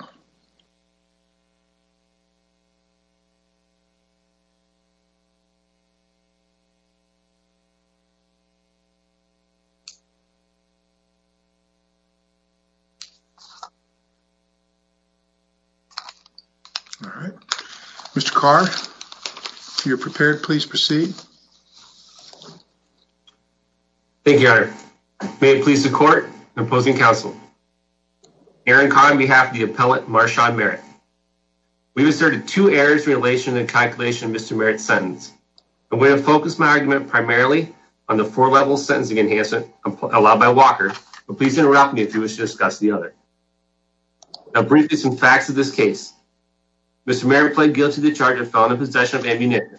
All right, Mr Car. You're prepared. Please proceed. Thank you, Your Honor. May it please the court, the opposing counsel, Aaron Carr on behalf of the appellate Marshaun Merritt. We've asserted two errors in relation to the calculation of Mr Merritt's sentence. I'm going to focus my argument primarily on the four-level sentencing enhancement allowed by Walker, but please interrupt me if you wish to discuss the other. Now, briefly, some facts of this case. Mr Merritt pled guilty to the charge of felon in possession of ammunition.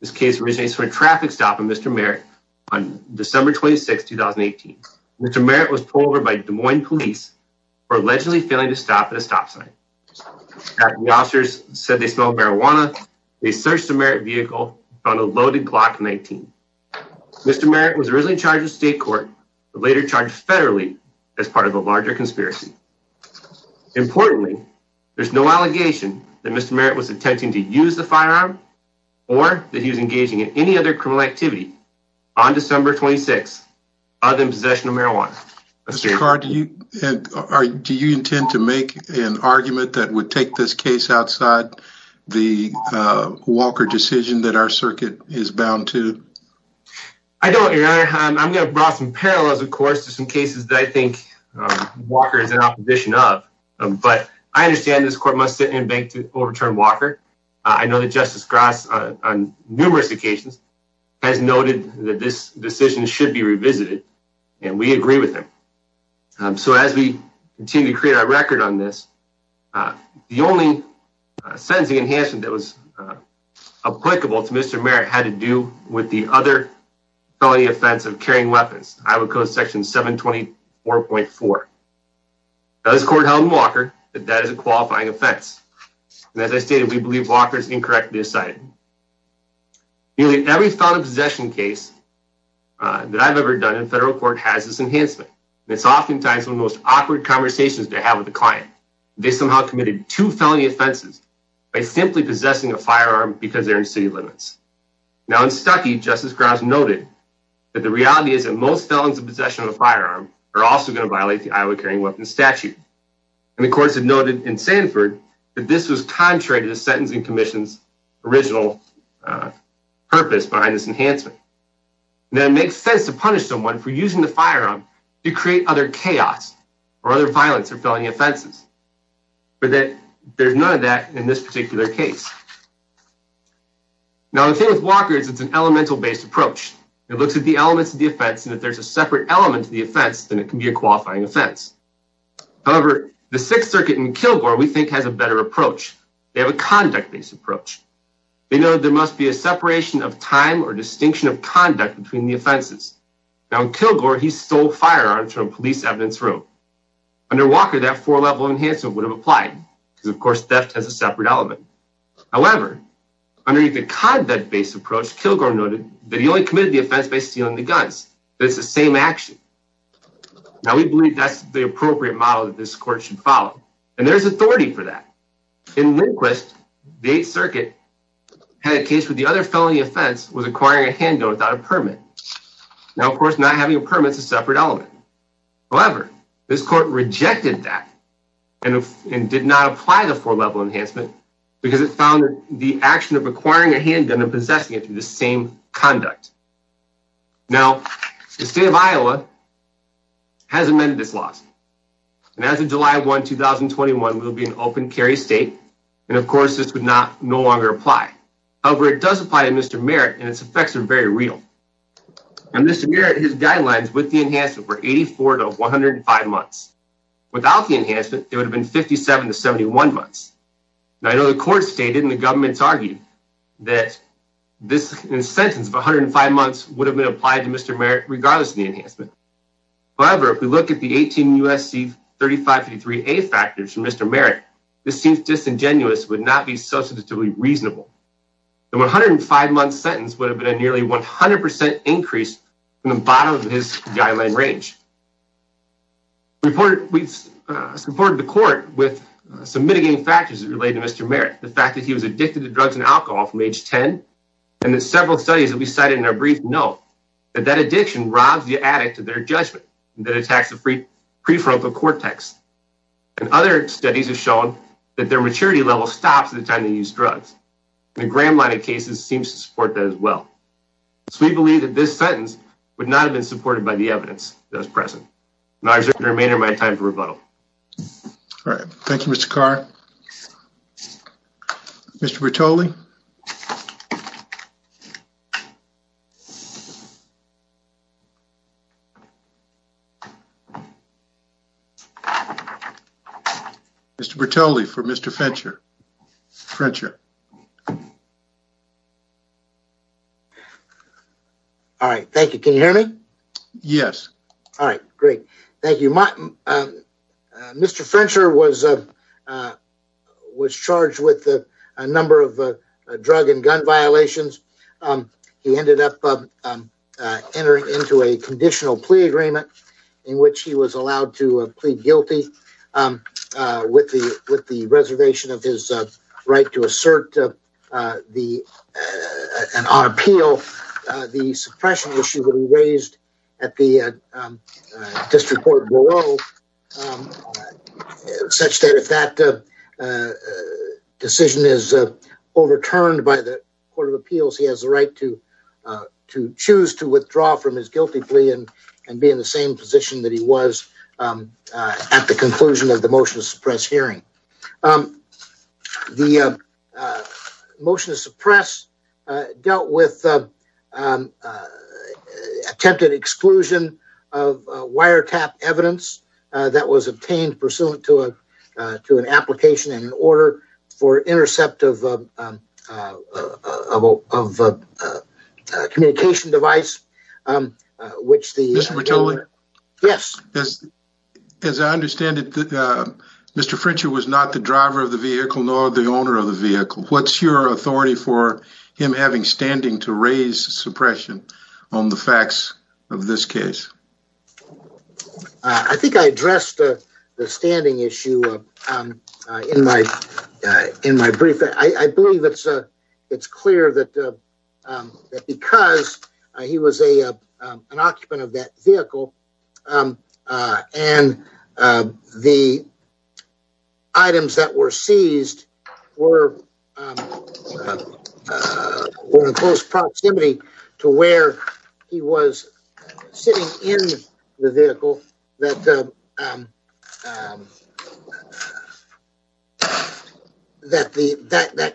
This case originates from a traffic stop in Mr Merritt on December 26, 2018. Mr Merritt was pulled over by Des Moines police for allegedly failing to stop at a stop sign. After the officers said they smelled marijuana, they searched the Merritt vehicle and found a loaded Glock 19. Mr Merritt was originally charged with state court, but later charged federally as part of a larger conspiracy. Importantly, there's no allegation that Mr Merritt was attempting to use the firearm or that he was engaging in any other criminal activity on December 26 other than possession of marijuana. Mr Carr, do you intend to make an argument that would take this case outside the Walker decision that our circuit is bound to? I don't, Your Honor. I'm going to draw some parallels, of course, to some cases that I think Walker is in opposition of, but I understand this court must sit in bank to overturn Walker. I know that Justice Grass, on numerous occasions, has noted that this decision should be revisited, and we agree with him. So as we continue to create our record on this, the only sentencing enhancement that was applicable to Mr Merritt had to do with the other felony offense of carrying weapons, Iowa Code section 724.4. This court held in Walker that that is a qualifying offense, and as I stated, we believe Walker is incorrectly decided. Nearly every felon possession case that I've ever done in federal court has this enhancement, and it's oftentimes one of the most awkward conversations to have with a client. They somehow committed two felony offenses by simply possessing a firearm because they're in city limits. Now in Stuckey, Justice Grass noted that the reality is that most felons in possession of a firearm are also going to violate the Iowa carrying weapons statute, and the courts have noted in Sanford that this was contrary to the sentencing commission's original purpose behind this enhancement. Now it makes sense to punish someone for using the firearm to create other chaos or other violence or felony offenses, but that there's none of that in this particular case. Now the thing with Walker is it's an elemental-based approach. It looks at the elements of the offense, and if there's a separate element to the offense, then it can be a qualifying offense. However, the Sixth Circuit in Kilgore we think has a better approach. They have a conduct-based approach. They know there must be a separation of time or distinction of conduct between the offenses. Now in Kilgore, he stole firearms from a police evidence room. Under Walker, that four-level enhancement would have applied because, of course, theft has a separate element. However, under the conduct-based approach, Kilgore noted that he only committed the offense by stealing the guns. It's the same action. Now we believe that's the appropriate model that this court should follow, and there's authority for that. In Lindquist, the Eighth Circuit had a case where the other felony offense was acquiring a handgun without a permit. Now, of course, not having a permit is a separate element. However, this court rejected that and did not apply the four-level enhancement because it found the action of acquiring a handgun and possessing it to the same conduct. Now, the state of Iowa has amended this lawsuit. And as of July 1, 2021, it will be an open carry state. And, of course, this would not no longer apply. However, it does apply to Mr. Merritt, and its effects are very real. And Mr. Merritt, his guidelines with the enhancement were 84 to 105 months. Without the enhancement, it would have been 57 to 71 months. Now, I know the court stated and the government's argued that this sentence of 105 months would have been applied to Mr. Merritt regardless of the enhancement. However, if we look at the 18 U.S.C. 3553A factors from Mr. Merritt, this seems disingenuous, would not be substantively reasonable. The 105-month sentence would have been a nearly 100% increase from the bottom of his guideline range. We supported the court with some mitigating factors that relate to Mr. Merritt. The fact that he was addicted to drugs and alcohol from age 10, and that several studies that we cited in a brief note, that that addiction robs the addict of their judgment, and that attacks the prefrontal cortex. And other studies have shown that their maturity level stops at the time they use drugs. And the Graham line of cases seems to support that as well. So we believe that this sentence would not have been supported by the evidence that was present. And I reserve the remainder of my time for rebuttal. All right. Thank you, Mr. Carr. Mr. Bertoli. Mr. Bertoli for Mr. Frencher. All right. Thank you. Can you hear me? Yes. All right. Great. Thank you. Mr. Frencher was charged with a number of drug and gun violations. He ended up entering into a conditional plea agreement in which he was allowed to plead guilty with the reservation of his right to assert an appeal. The suppression issue will be raised at the district court below, such that if that decision is overturned by the court of appeals, he has the right to choose to withdraw from his guilty plea and be in the same position that he was at the conclusion of the motion to suppress hearing. The motion to suppress dealt with an attempted exclusion of wiretap evidence that was obtained pursuant to an application in order for intercept of a communication device, which the- Mr. Bertoli? Yes. As I understand it, Mr. Frencher was not the driver of the vehicle nor the owner of the vehicle. What's your authority for him having standing to raise suppression on the facts of this case? I think I addressed the standing issue in my brief. I believe it's clear that because he was an occupant of that or in close proximity to where he was sitting in the vehicle, that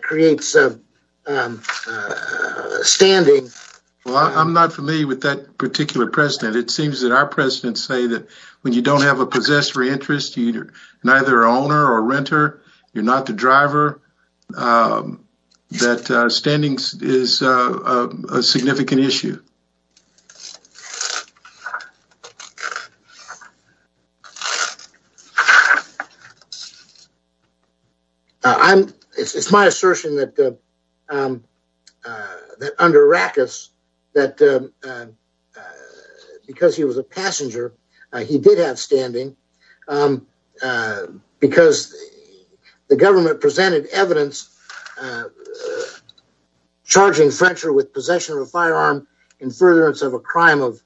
creates standing. Well, I'm not familiar with that particular precedent. It seems that our precedents say that when you don't have a possessory interest, you're neither owner or standing is a significant issue. It's my assertion that under Rackus, because he was a passenger, he did have standing because the government presented evidence charging Frencher with possession of a firearm in furtherance of a crime of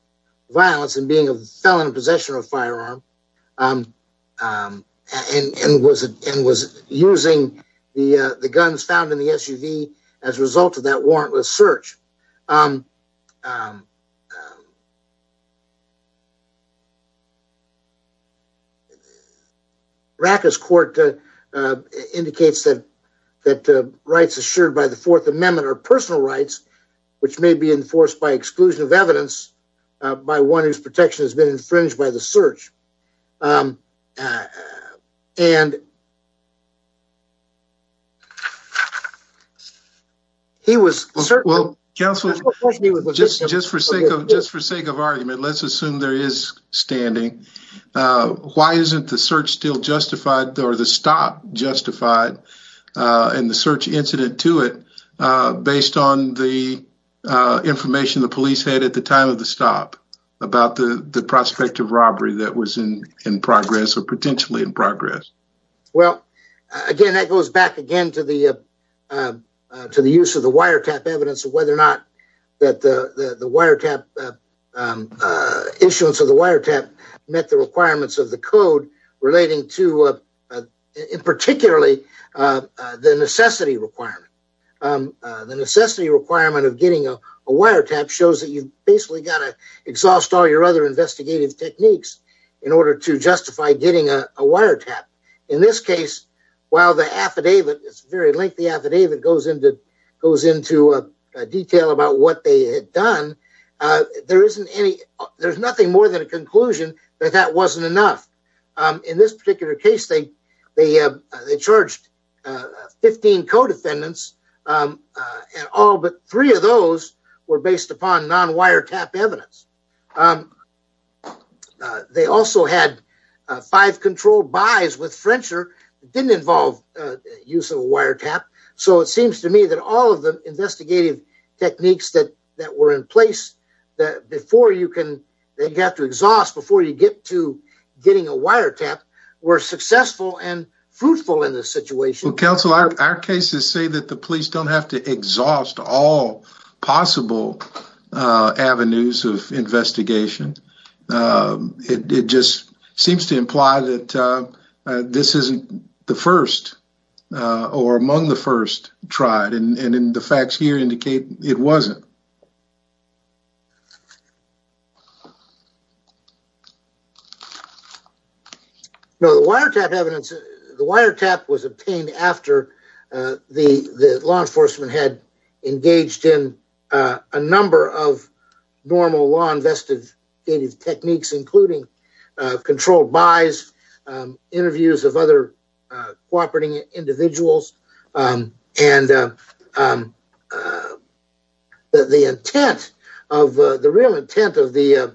violence and being a felon in possession of a firearm and was using the guns found in the SUV as a result of that warrantless search. Rackus court indicates that rights assured by the Fourth Amendment are personal rights, which may be enforced by exclusion of evidence by one whose protection has been infringed by the search. Well, counsel, just for sake of argument, let's assume there is standing. Why isn't the search still justified or the stop justified in the search incident to it based on the information the police had at the time of the stop about the prospect of robbery that was in progress or potentially in progress? Well, again, that goes back again to the use of the wiretap evidence of whether or not that the wiretap issuance of the wiretap met the requirements of the code relating to particularly the necessity requirement. The necessity requirement of getting a wiretap shows that you basically got to exhaust all your other investigative techniques in order to justify getting a wiretap. In this case, while the affidavit, it's a very lengthy affidavit, goes into detail about what they had done, there isn't any there's nothing more than a conclusion that that wasn't enough. In this particular case, they charged 15 codefendants at all, but three of those were based upon non-wiretap evidence. They also had five controlled buys with Frencher that didn't involve use of a wiretap, so it seems to me that all of the investigative techniques that that were in place that before you can they got to exhaust before you get to getting a wiretap were successful and fruitful in this situation. Well, counsel, our cases say that the police don't have to exhaust all possible avenues of investigation. It just seems to imply that this isn't the first or among the first tried, and the facts here indicate it wasn't. The wiretap evidence, the wiretap was obtained after the law enforcement had engaged in a number of normal law investigative techniques, including controlled buys, interviews of other individuals, and the intent of the real intent of the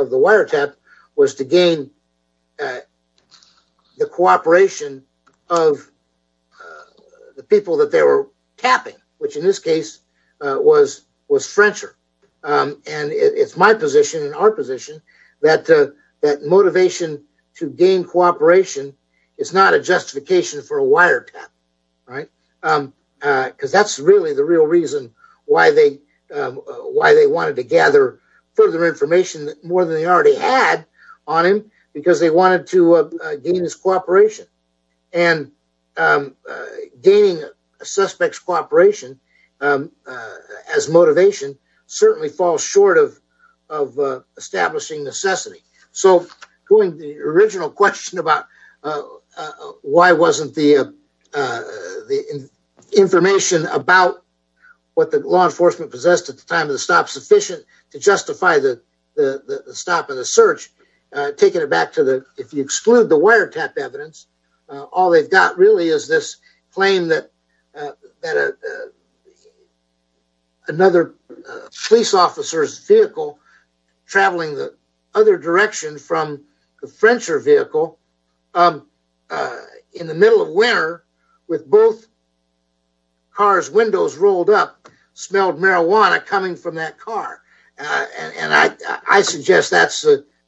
wiretap was to gain the cooperation of the people that they were tapping, which in this case was Frencher, and it's my position and our position that motivation to gain cooperation is not a justification for a wiretap, right? Because that's really the real reason why they wanted to gather further information more than they already had on him, because they wanted to gain his cooperation, and gaining a suspect's cooperation as motivation certainly falls short of establishing necessity. So the original question about why wasn't the information about what the law enforcement possessed at the time of the stop sufficient to justify the stop and the search, taking it back if you exclude the wiretap evidence, all they've got really is this claim that another police officer's vehicle traveling the other direction from the Frencher vehicle in the middle of winter with both cars' windows rolled up smelled marijuana coming from that car, and I suggest that's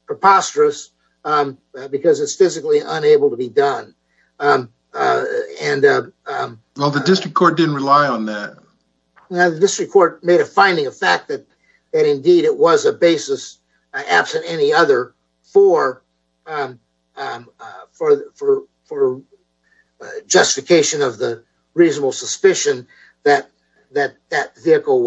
preposterous because it's physically unable to be done. Well, the district court didn't rely on that. The district court made a finding of fact that indeed it was a basis absent any other for for justification of the reasonable suspicion that that vehicle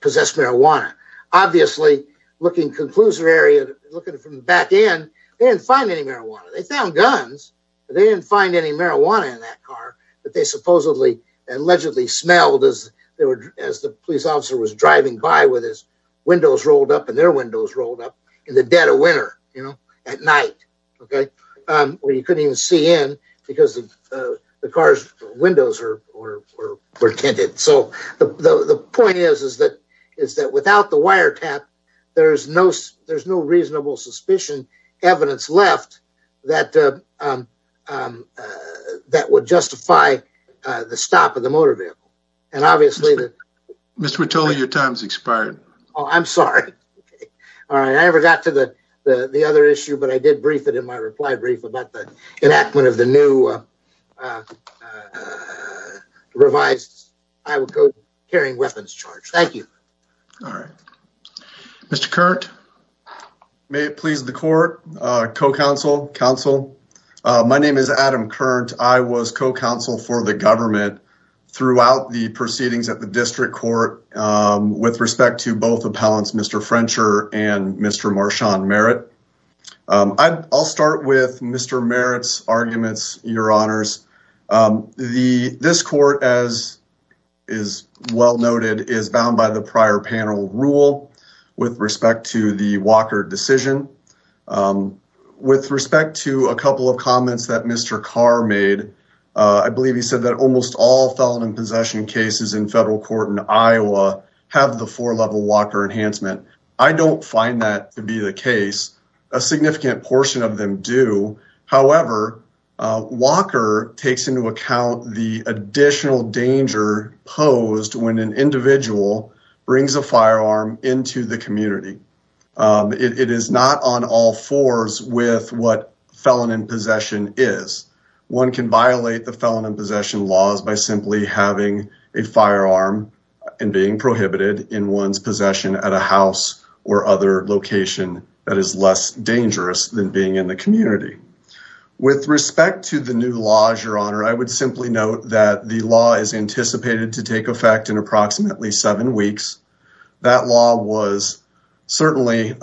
possessed marijuana. Obviously, looking conclusive area, looking from the back end, they didn't find any marijuana. They found guns, but they didn't find any marijuana in that car that they supposedly allegedly smelled as the police officer was driving by with his windows rolled up and their couldn't even see in because the car's windows were tinted. So the point is that without the wiretap, there's no reasonable suspicion evidence left that would justify the stop of the motor vehicle. And obviously, Mr. Vitoli, your time's expired. Oh, I'm sorry. All right, I never got to the other issue, but I did brief it in my reply brief about enactment of the new revised. I would go hearing weapons charge. Thank you. All right, Mr. Curt. May it please the court. Co-counsel, counsel. My name is Adam current. I was co-counsel for the government throughout the proceedings at the district court with respect to both appellants, Mr. Frencher and Mr. Marshawn Merritt. I'll start with Mr. Merritt's arguments, your honors. This court, as is well noted, is bound by the prior panel rule with respect to the Walker decision with respect to a couple of comments that Mr. Carr made. I believe he said that almost all felon in possession cases in federal court in Iowa have the four level Walker enhancement. I don't find that to be the case. A significant portion of them do. However, Walker takes into account the additional danger posed when an individual brings a firearm into the community. It is not on all fours with what felon in possession is. One can violate the felon in possession laws by simply having a firearm and being prohibited in one's possession at a house or other location that is less dangerous than being in the community. With respect to the new laws, your honor, I would simply note that the law is anticipated to take effect in approximately seven weeks. That law was certainly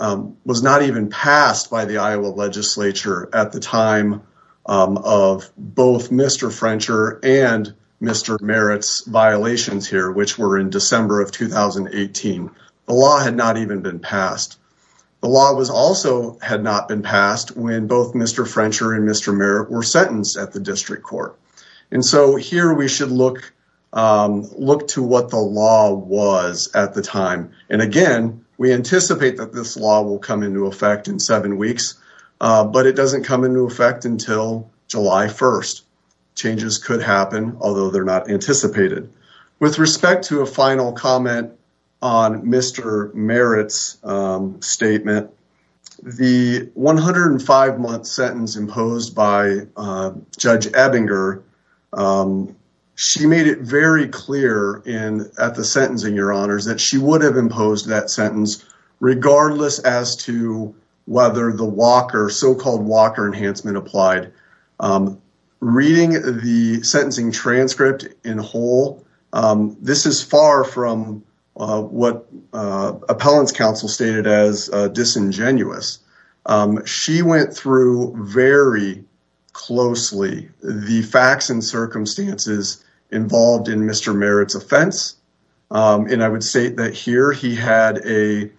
was not even passed by the Iowa legislature at the time of both Mr. Frencher and Mr. Merritt's violations here, which were in December of 2018. The law had not even been passed. The law was also had not been passed when both Mr. Frencher and Mr. Merritt were sentenced at the district court. And so here we should look to what the law was at the time. And again, we anticipate that this law will come into effect in seven weeks, but it doesn't come into effect until July 1st. Changes could happen, although they're not anticipated. With respect to a final comment on Mr. Merritt's statement, the 105-month sentence imposed by Judge Ebinger, she made it very clear at the sentencing, your honors, that she would have imposed that sentence regardless as to whether the so-called Walker enhancement applied. I'm reading the sentencing transcript in whole. This is far from what appellant's counsel stated as disingenuous. She went through very closely the facts and circumstances involved in Mr. Merritt's offense. And I would say that here he had an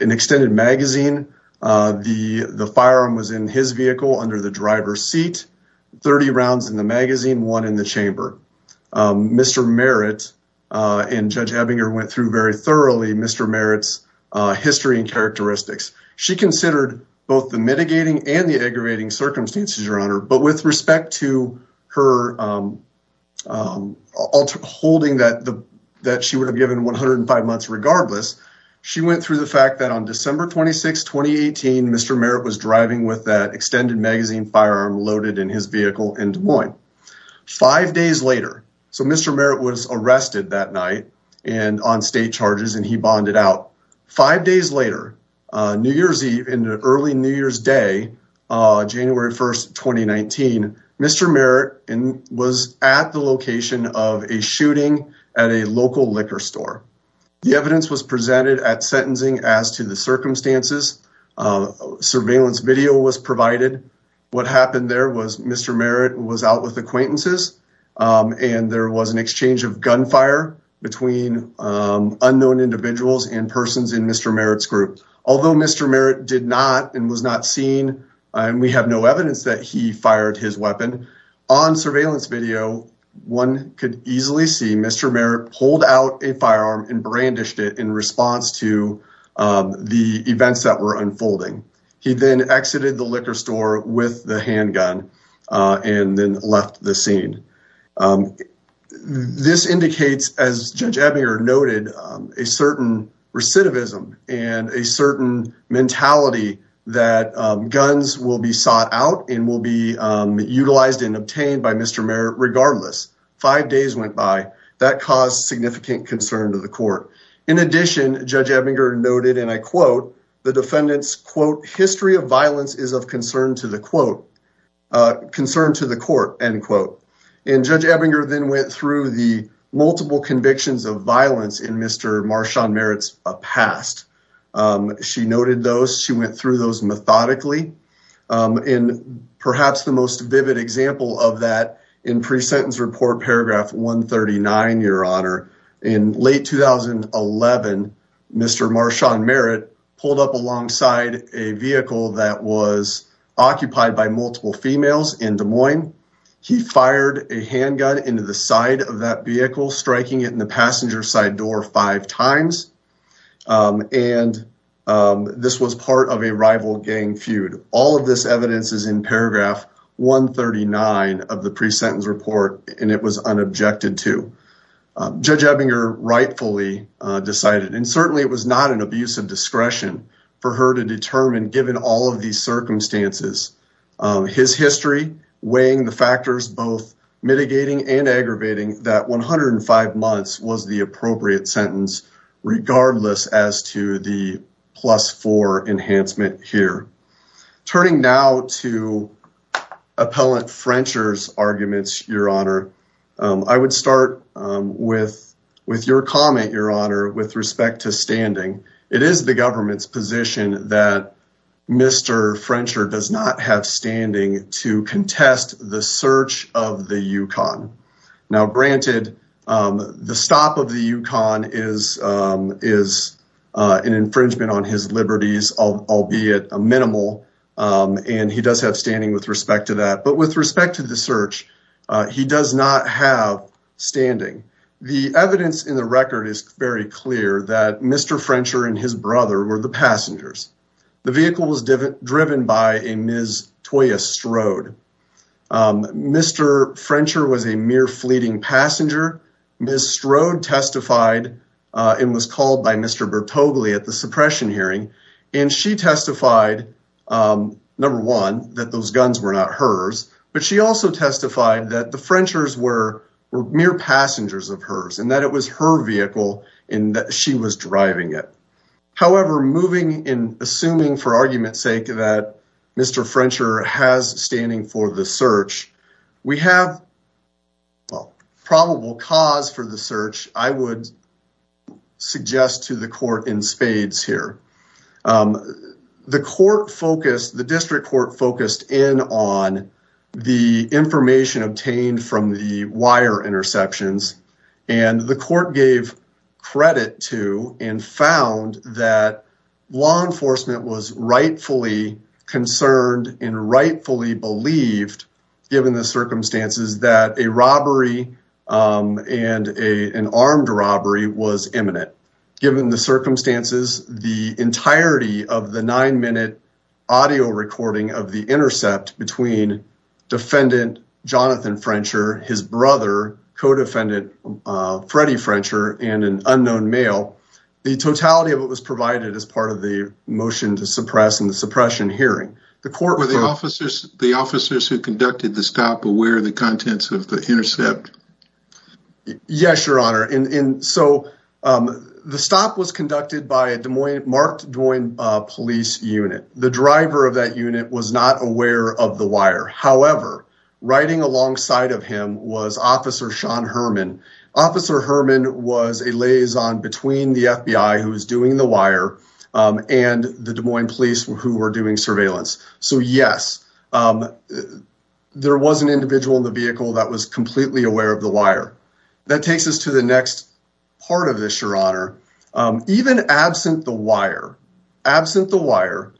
extended magazine. The firearm was in his vehicle under the driver's seat, 30 rounds in the magazine, one in the chamber. Mr. Merritt and Judge Ebinger went through very thoroughly Mr. Merritt's history and characteristics. She considered both the mitigating and the aggravating circumstances, your honor, but with respect to her holding that she would have given 105 months regardless, she went through the fact that on December 26, 2018, Mr. Merritt was driving with that extended magazine firearm loaded in his vehicle in Des Moines. Five days later, so Mr. Merritt was arrested that night and on state charges and he bonded out. Five days later, New Year's Eve, in the early New Year's Day, January 1st, 2019, Mr. Merritt was at the location of a shooting at a local liquor store. The evidence was presented at sentencing as to the circumstances, surveillance video was provided. What happened there was Mr. Merritt was out with acquaintances and there was an exchange of gunfire between unknown individuals and persons in Mr. Merritt's group. Although Mr. Merritt did not and was not seen and we have no evidence that he fired his in response to the events that were unfolding. He then exited the liquor store with the handgun and then left the scene. This indicates, as Judge Ebbinger noted, a certain recidivism and a certain mentality that guns will be sought out and will be utilized and obtained by Mr. Merritt regardless. Five days went by. That caused significant concern to the court. In addition, Judge Ebbinger noted, and I quote, the defendants, quote, history of violence is of concern to the court, end quote. Judge Ebbinger then went through the multiple convictions of violence in Mr. Marshawn Merritt's past. She noted those. She went through those methodically. In perhaps the most vivid example of that in pre-sentence report, paragraph 139, your honor. In late 2011, Mr. Marshawn Merritt pulled up alongside a vehicle that was occupied by multiple females in Des Moines. He fired a handgun into the side of that vehicle, striking it in the passenger side door five times. And this was part of a rival gang feud. All of this evidence is in paragraph 139 of the pre-sentence report, and it was unobjected to. Judge Ebbinger rightfully decided, and certainly it was not an abuse of discretion for her to determine given all of these circumstances. His history, weighing the factors, both mitigating and aggravating that 105 months was the regardless as to the plus four enhancement here. Turning now to Appellant Frencher's arguments, your honor. I would start with your comment, your honor, with respect to standing. It is the government's position that Mr. Frencher does not have standing to contest the search of the Yukon. Now, granted, the stop of the Yukon is an infringement on his liberties, albeit a minimal, and he does have standing with respect to that. But with respect to the search, he does not have standing. The evidence in the record is very clear that Mr. Frencher and his brother were the passengers. The vehicle was driven by a Ms. Toya Strode. Mr. Frencher was a mere fleeting passenger. Ms. Strode testified and was called by Mr. Bertogli at the suppression hearing. And she testified, number one, that those guns were not hers. But she also testified that the Frenchers were mere passengers of hers and that it was her vehicle and that she was driving it. However, moving in, assuming for argument's sake that Mr. Frencher has standing for the search, we have probable cause for the search, I would suggest to the court in spades here. The court focused, the district court focused in on the information obtained from the wire interceptions. And the court gave credit to and found that law enforcement was rightfully concerned and rightfully believed, given the circumstances, that a robbery and an armed robbery was imminent. Given the circumstances, the entirety of the nine-minute audio recording of the intercept between defendant Jonathan Frencher, his brother, co-defendant Freddie Frencher, and an unknown male, the totality of it was provided as part of the motion to suppress and the suppression hearing. The court- Were the officers who conducted the stop aware of the contents of the intercept? Yes, Your Honor. And so the stop was conducted by a Des Moines, Marked Des Moines Police Unit. The driver of that unit was not aware of the wire. However, riding alongside of him was Officer Sean Herman. Officer Herman was a liaison between the FBI who was doing the wire and the Des Moines Police who were doing surveillance. So yes, there was an individual in the vehicle that was completely aware of the wire. Even absent the wire,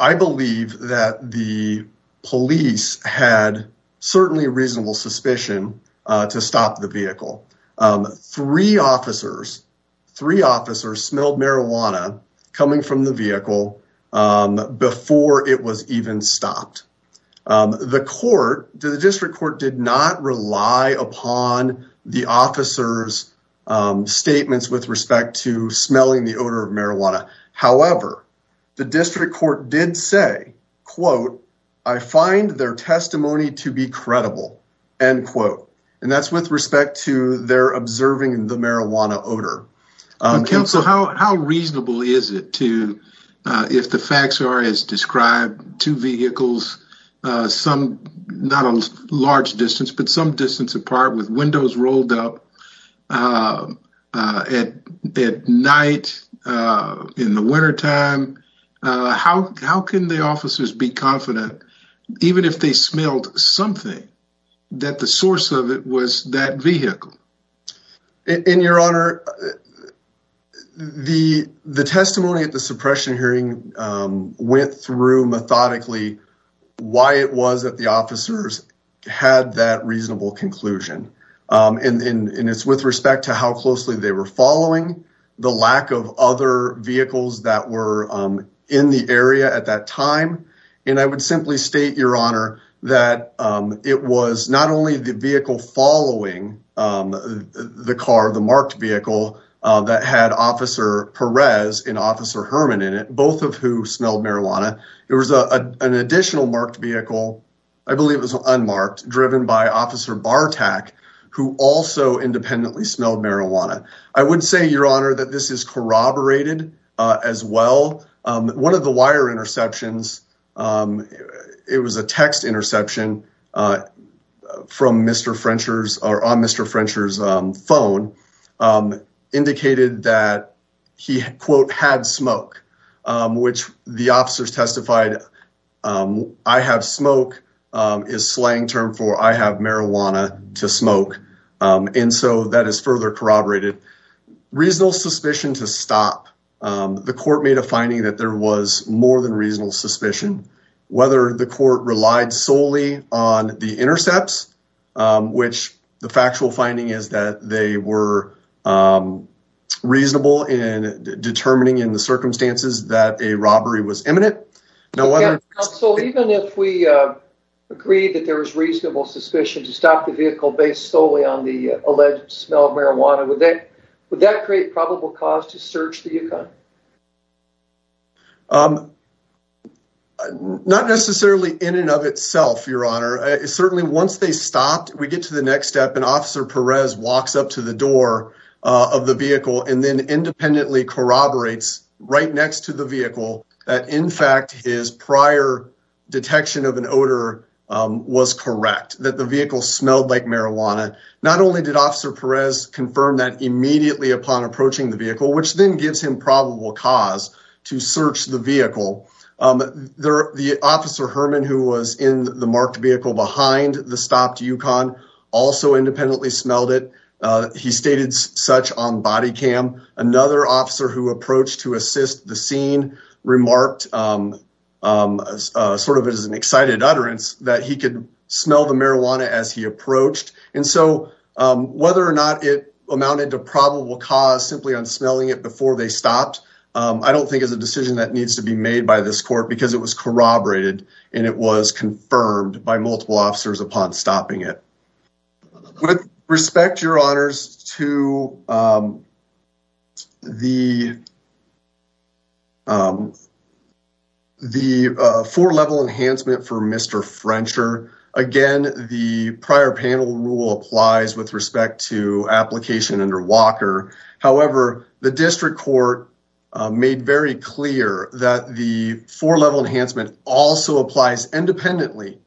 I believe that the police had certainly reasonable suspicion to stop the vehicle. Three officers smelled marijuana coming from the vehicle before it was even stopped. The court, the district court did not rely upon the officer's statements with respect to smelling the odor of marijuana. However, the district court did say, quote, I find their testimony to be credible, end quote. And that's with respect to their observing the marijuana odor. Counsel, how reasonable is it to, if the facts are as described, two vehicles, some, not a large distance, but some distance apart with windows rolled up at night, in the wintertime, how can the officers be confident, even if they smelled something, that the source of it was that vehicle? In your honor, the testimony at the suppression hearing went through methodically why it was that the officers had that reasonable conclusion. And it's with respect to how closely they were following the lack of other vehicles that were in the area at that time. And I would simply state your honor that it was not only the vehicle following the car, the marked vehicle that had officer Perez and officer Herman in it, both of who smelled marijuana. It was an additional marked vehicle. I believe it was unmarked driven by officer Bartak, who also independently smelled marijuana. I would say your honor that this is corroborated as well. One of the wire interceptions, it was a text interception from Mr. Frencher's or on Mr. Frencher's phone indicated that he quote had smoke, which the officers testified. I have smoke is slang term for I have marijuana to smoke. And so that is further corroborated. Reasonable suspicion to stop. The court made a finding that there was more than reasonable suspicion, whether the court relied solely on the intercepts, which the factual finding is that they were reasonable in determining in the circumstances that a robbery was imminent. So even if we agreed that there was reasonable suspicion to stop the vehicle based solely on alleged smell of marijuana, would that create probable cause to search the UConn? Not necessarily in and of itself, your honor. Certainly once they stopped, we get to the next step and officer Perez walks up to the door of the vehicle and then independently corroborates right next to the vehicle that in fact his prior detection of an odor was correct, that the vehicle smelled like marijuana. Not only did officer Perez confirm that immediately upon approaching the vehicle, which then gives him probable cause to search the vehicle. The officer Herman, who was in the marked vehicle behind the stopped UConn, also independently smelled it. He stated such on body cam. Another officer who approached to assist the scene remarked, sort of as an excited utterance that he could smell the marijuana as he approached. And so whether or not it amounted to probable cause simply on smelling it before they stopped, I don't think is a decision that needs to be made by this court because it was corroborated and it was confirmed by multiple officers upon stopping it. With respect, your honors, to the four-level enhancement for Mr. Frencher. Again, the prior panel rule applies with respect to application under Walker. However, the district court made very clear that the four-level enhancement also applies independently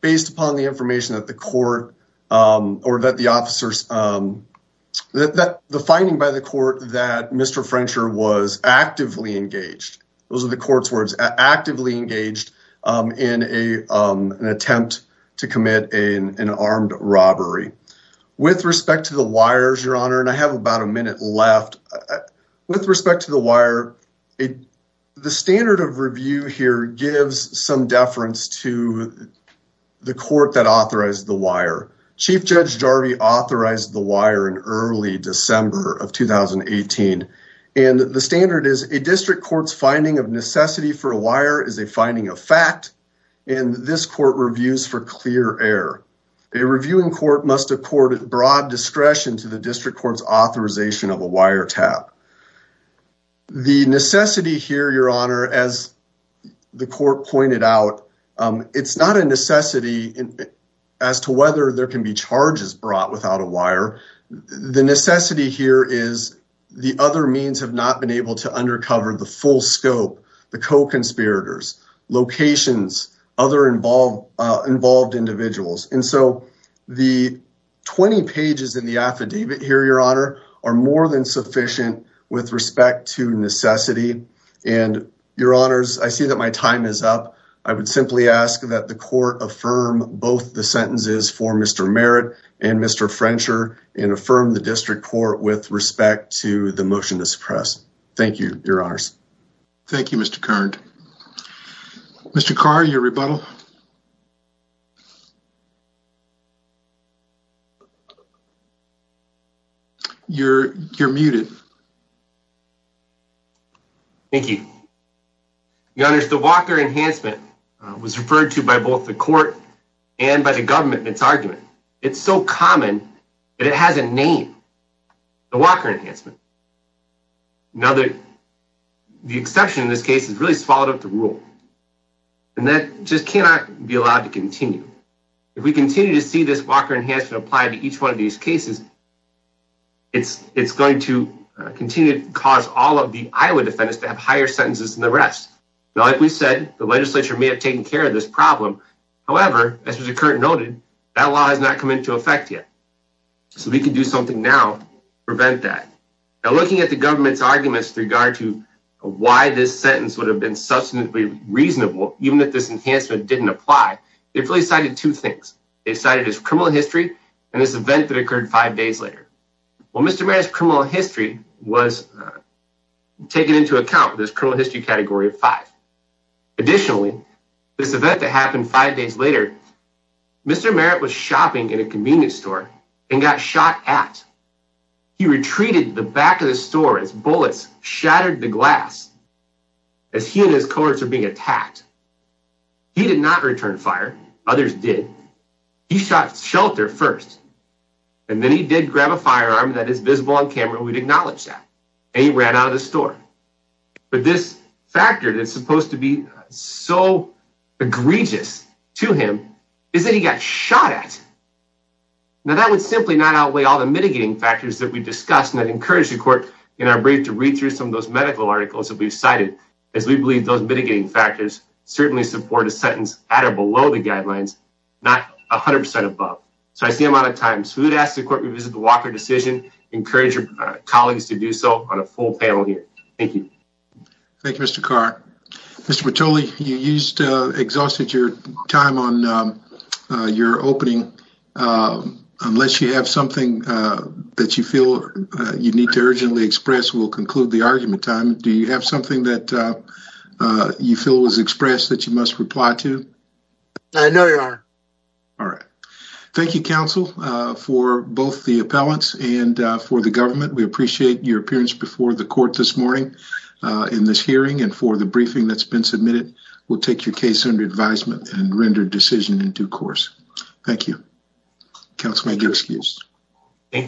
based upon the information that the court or that the officers, the finding by the court that Mr. Frencher was actively engaged. Those are the court's words, actively engaged in an attempt to commit an armed robbery. With respect to the wires, your honor, and I have about a minute left. With respect to the wire, the standard of review here gives some deference to the court that authorized the wire. Chief Judge Jarvie authorized the wire in early December of 2018. The standard is a district court's finding of necessity for a wire is a finding of fact, and this court reviews for clear air. A reviewing court must accord broad discretion to the district court's authorization of a wire tap. The necessity here, your honor, as the court pointed out, it's not a necessity as to whether there can be charges brought without a wire. The necessity here is the other means have not been able to undercover the full scope, the co-conspirators, locations, other involved individuals. And so the 20 pages in the affidavit here, your honor, are more than sufficient with respect to necessity. And your honors, I see that my time is up. I would simply ask that the court affirm both the sentences for Mr. Merritt and Mr. Frencher and affirm the district court with respect to the motion to suppress. Thank you, your honors. Thank you, Mr. Carr. Mr. Carr, your rebuttal. You're muted. Thank you. Your honors, the Walker Enhancement was referred to by both the court and by the government in its argument. It's so common that it has a name, the Walker Enhancement. Now, the exception in this case has really swallowed up the rule and that just cannot be allowed to continue. If we continue to see this Walker Enhancement applied to each one of these cases, it's going to continue to cause all of the Iowa defendants to have higher sentences than the rest. Now, like we said, the legislature may have taken care of this problem. However, as Mr. Curt noted, that law has not come into effect yet. So we can do something now to prevent that. Now, looking at the government's arguments with regard to why this sentence would have been substantively reasonable, even if this enhancement didn't apply, it really cited two things. It cited his criminal history and this event that occurred five days later. Well, Mr. Merritt's criminal history was taken into account with his criminal history category of five. Additionally, this event that happened five days later, Mr. Merritt was shopping in a convenience store and got shot at. He retreated to the back of the store as bullets shattered the glass as he and his cohorts were being attacked. He did not return fire. Others did. He shot shelter first. And then he did grab a firearm that is visible on camera. We'd acknowledge that. And he ran out of the store. But this factor that's supposed to be so egregious to him is that he got shot at. Now, that would simply not outweigh all the mitigating factors that we discussed and I'd encourage the court in our brief to read through some of those medical articles that we've cited as we believe those mitigating factors certainly support a sentence at or below the guidelines, not 100% above. So I see I'm out of time. So we would ask the court to revisit the Walker decision. Encourage your colleagues to do so on a full panel here. Thank you. Thank you, Mr. Carr. Mr. Bertoli, you exhausted your time on your opening. Unless you have something that you feel you need to urgently express, we'll conclude the argument time. Do you have something that you feel was expressed that you must reply to? I know, Your Honor. All right. Thank you, counsel, for both the appellants and for the government. We appreciate your appearance before the court this morning in this hearing and for the briefing that's been submitted. We'll take your case under advisement and render decision in due course. Thank you. Counsel, make your excuse. Thank you.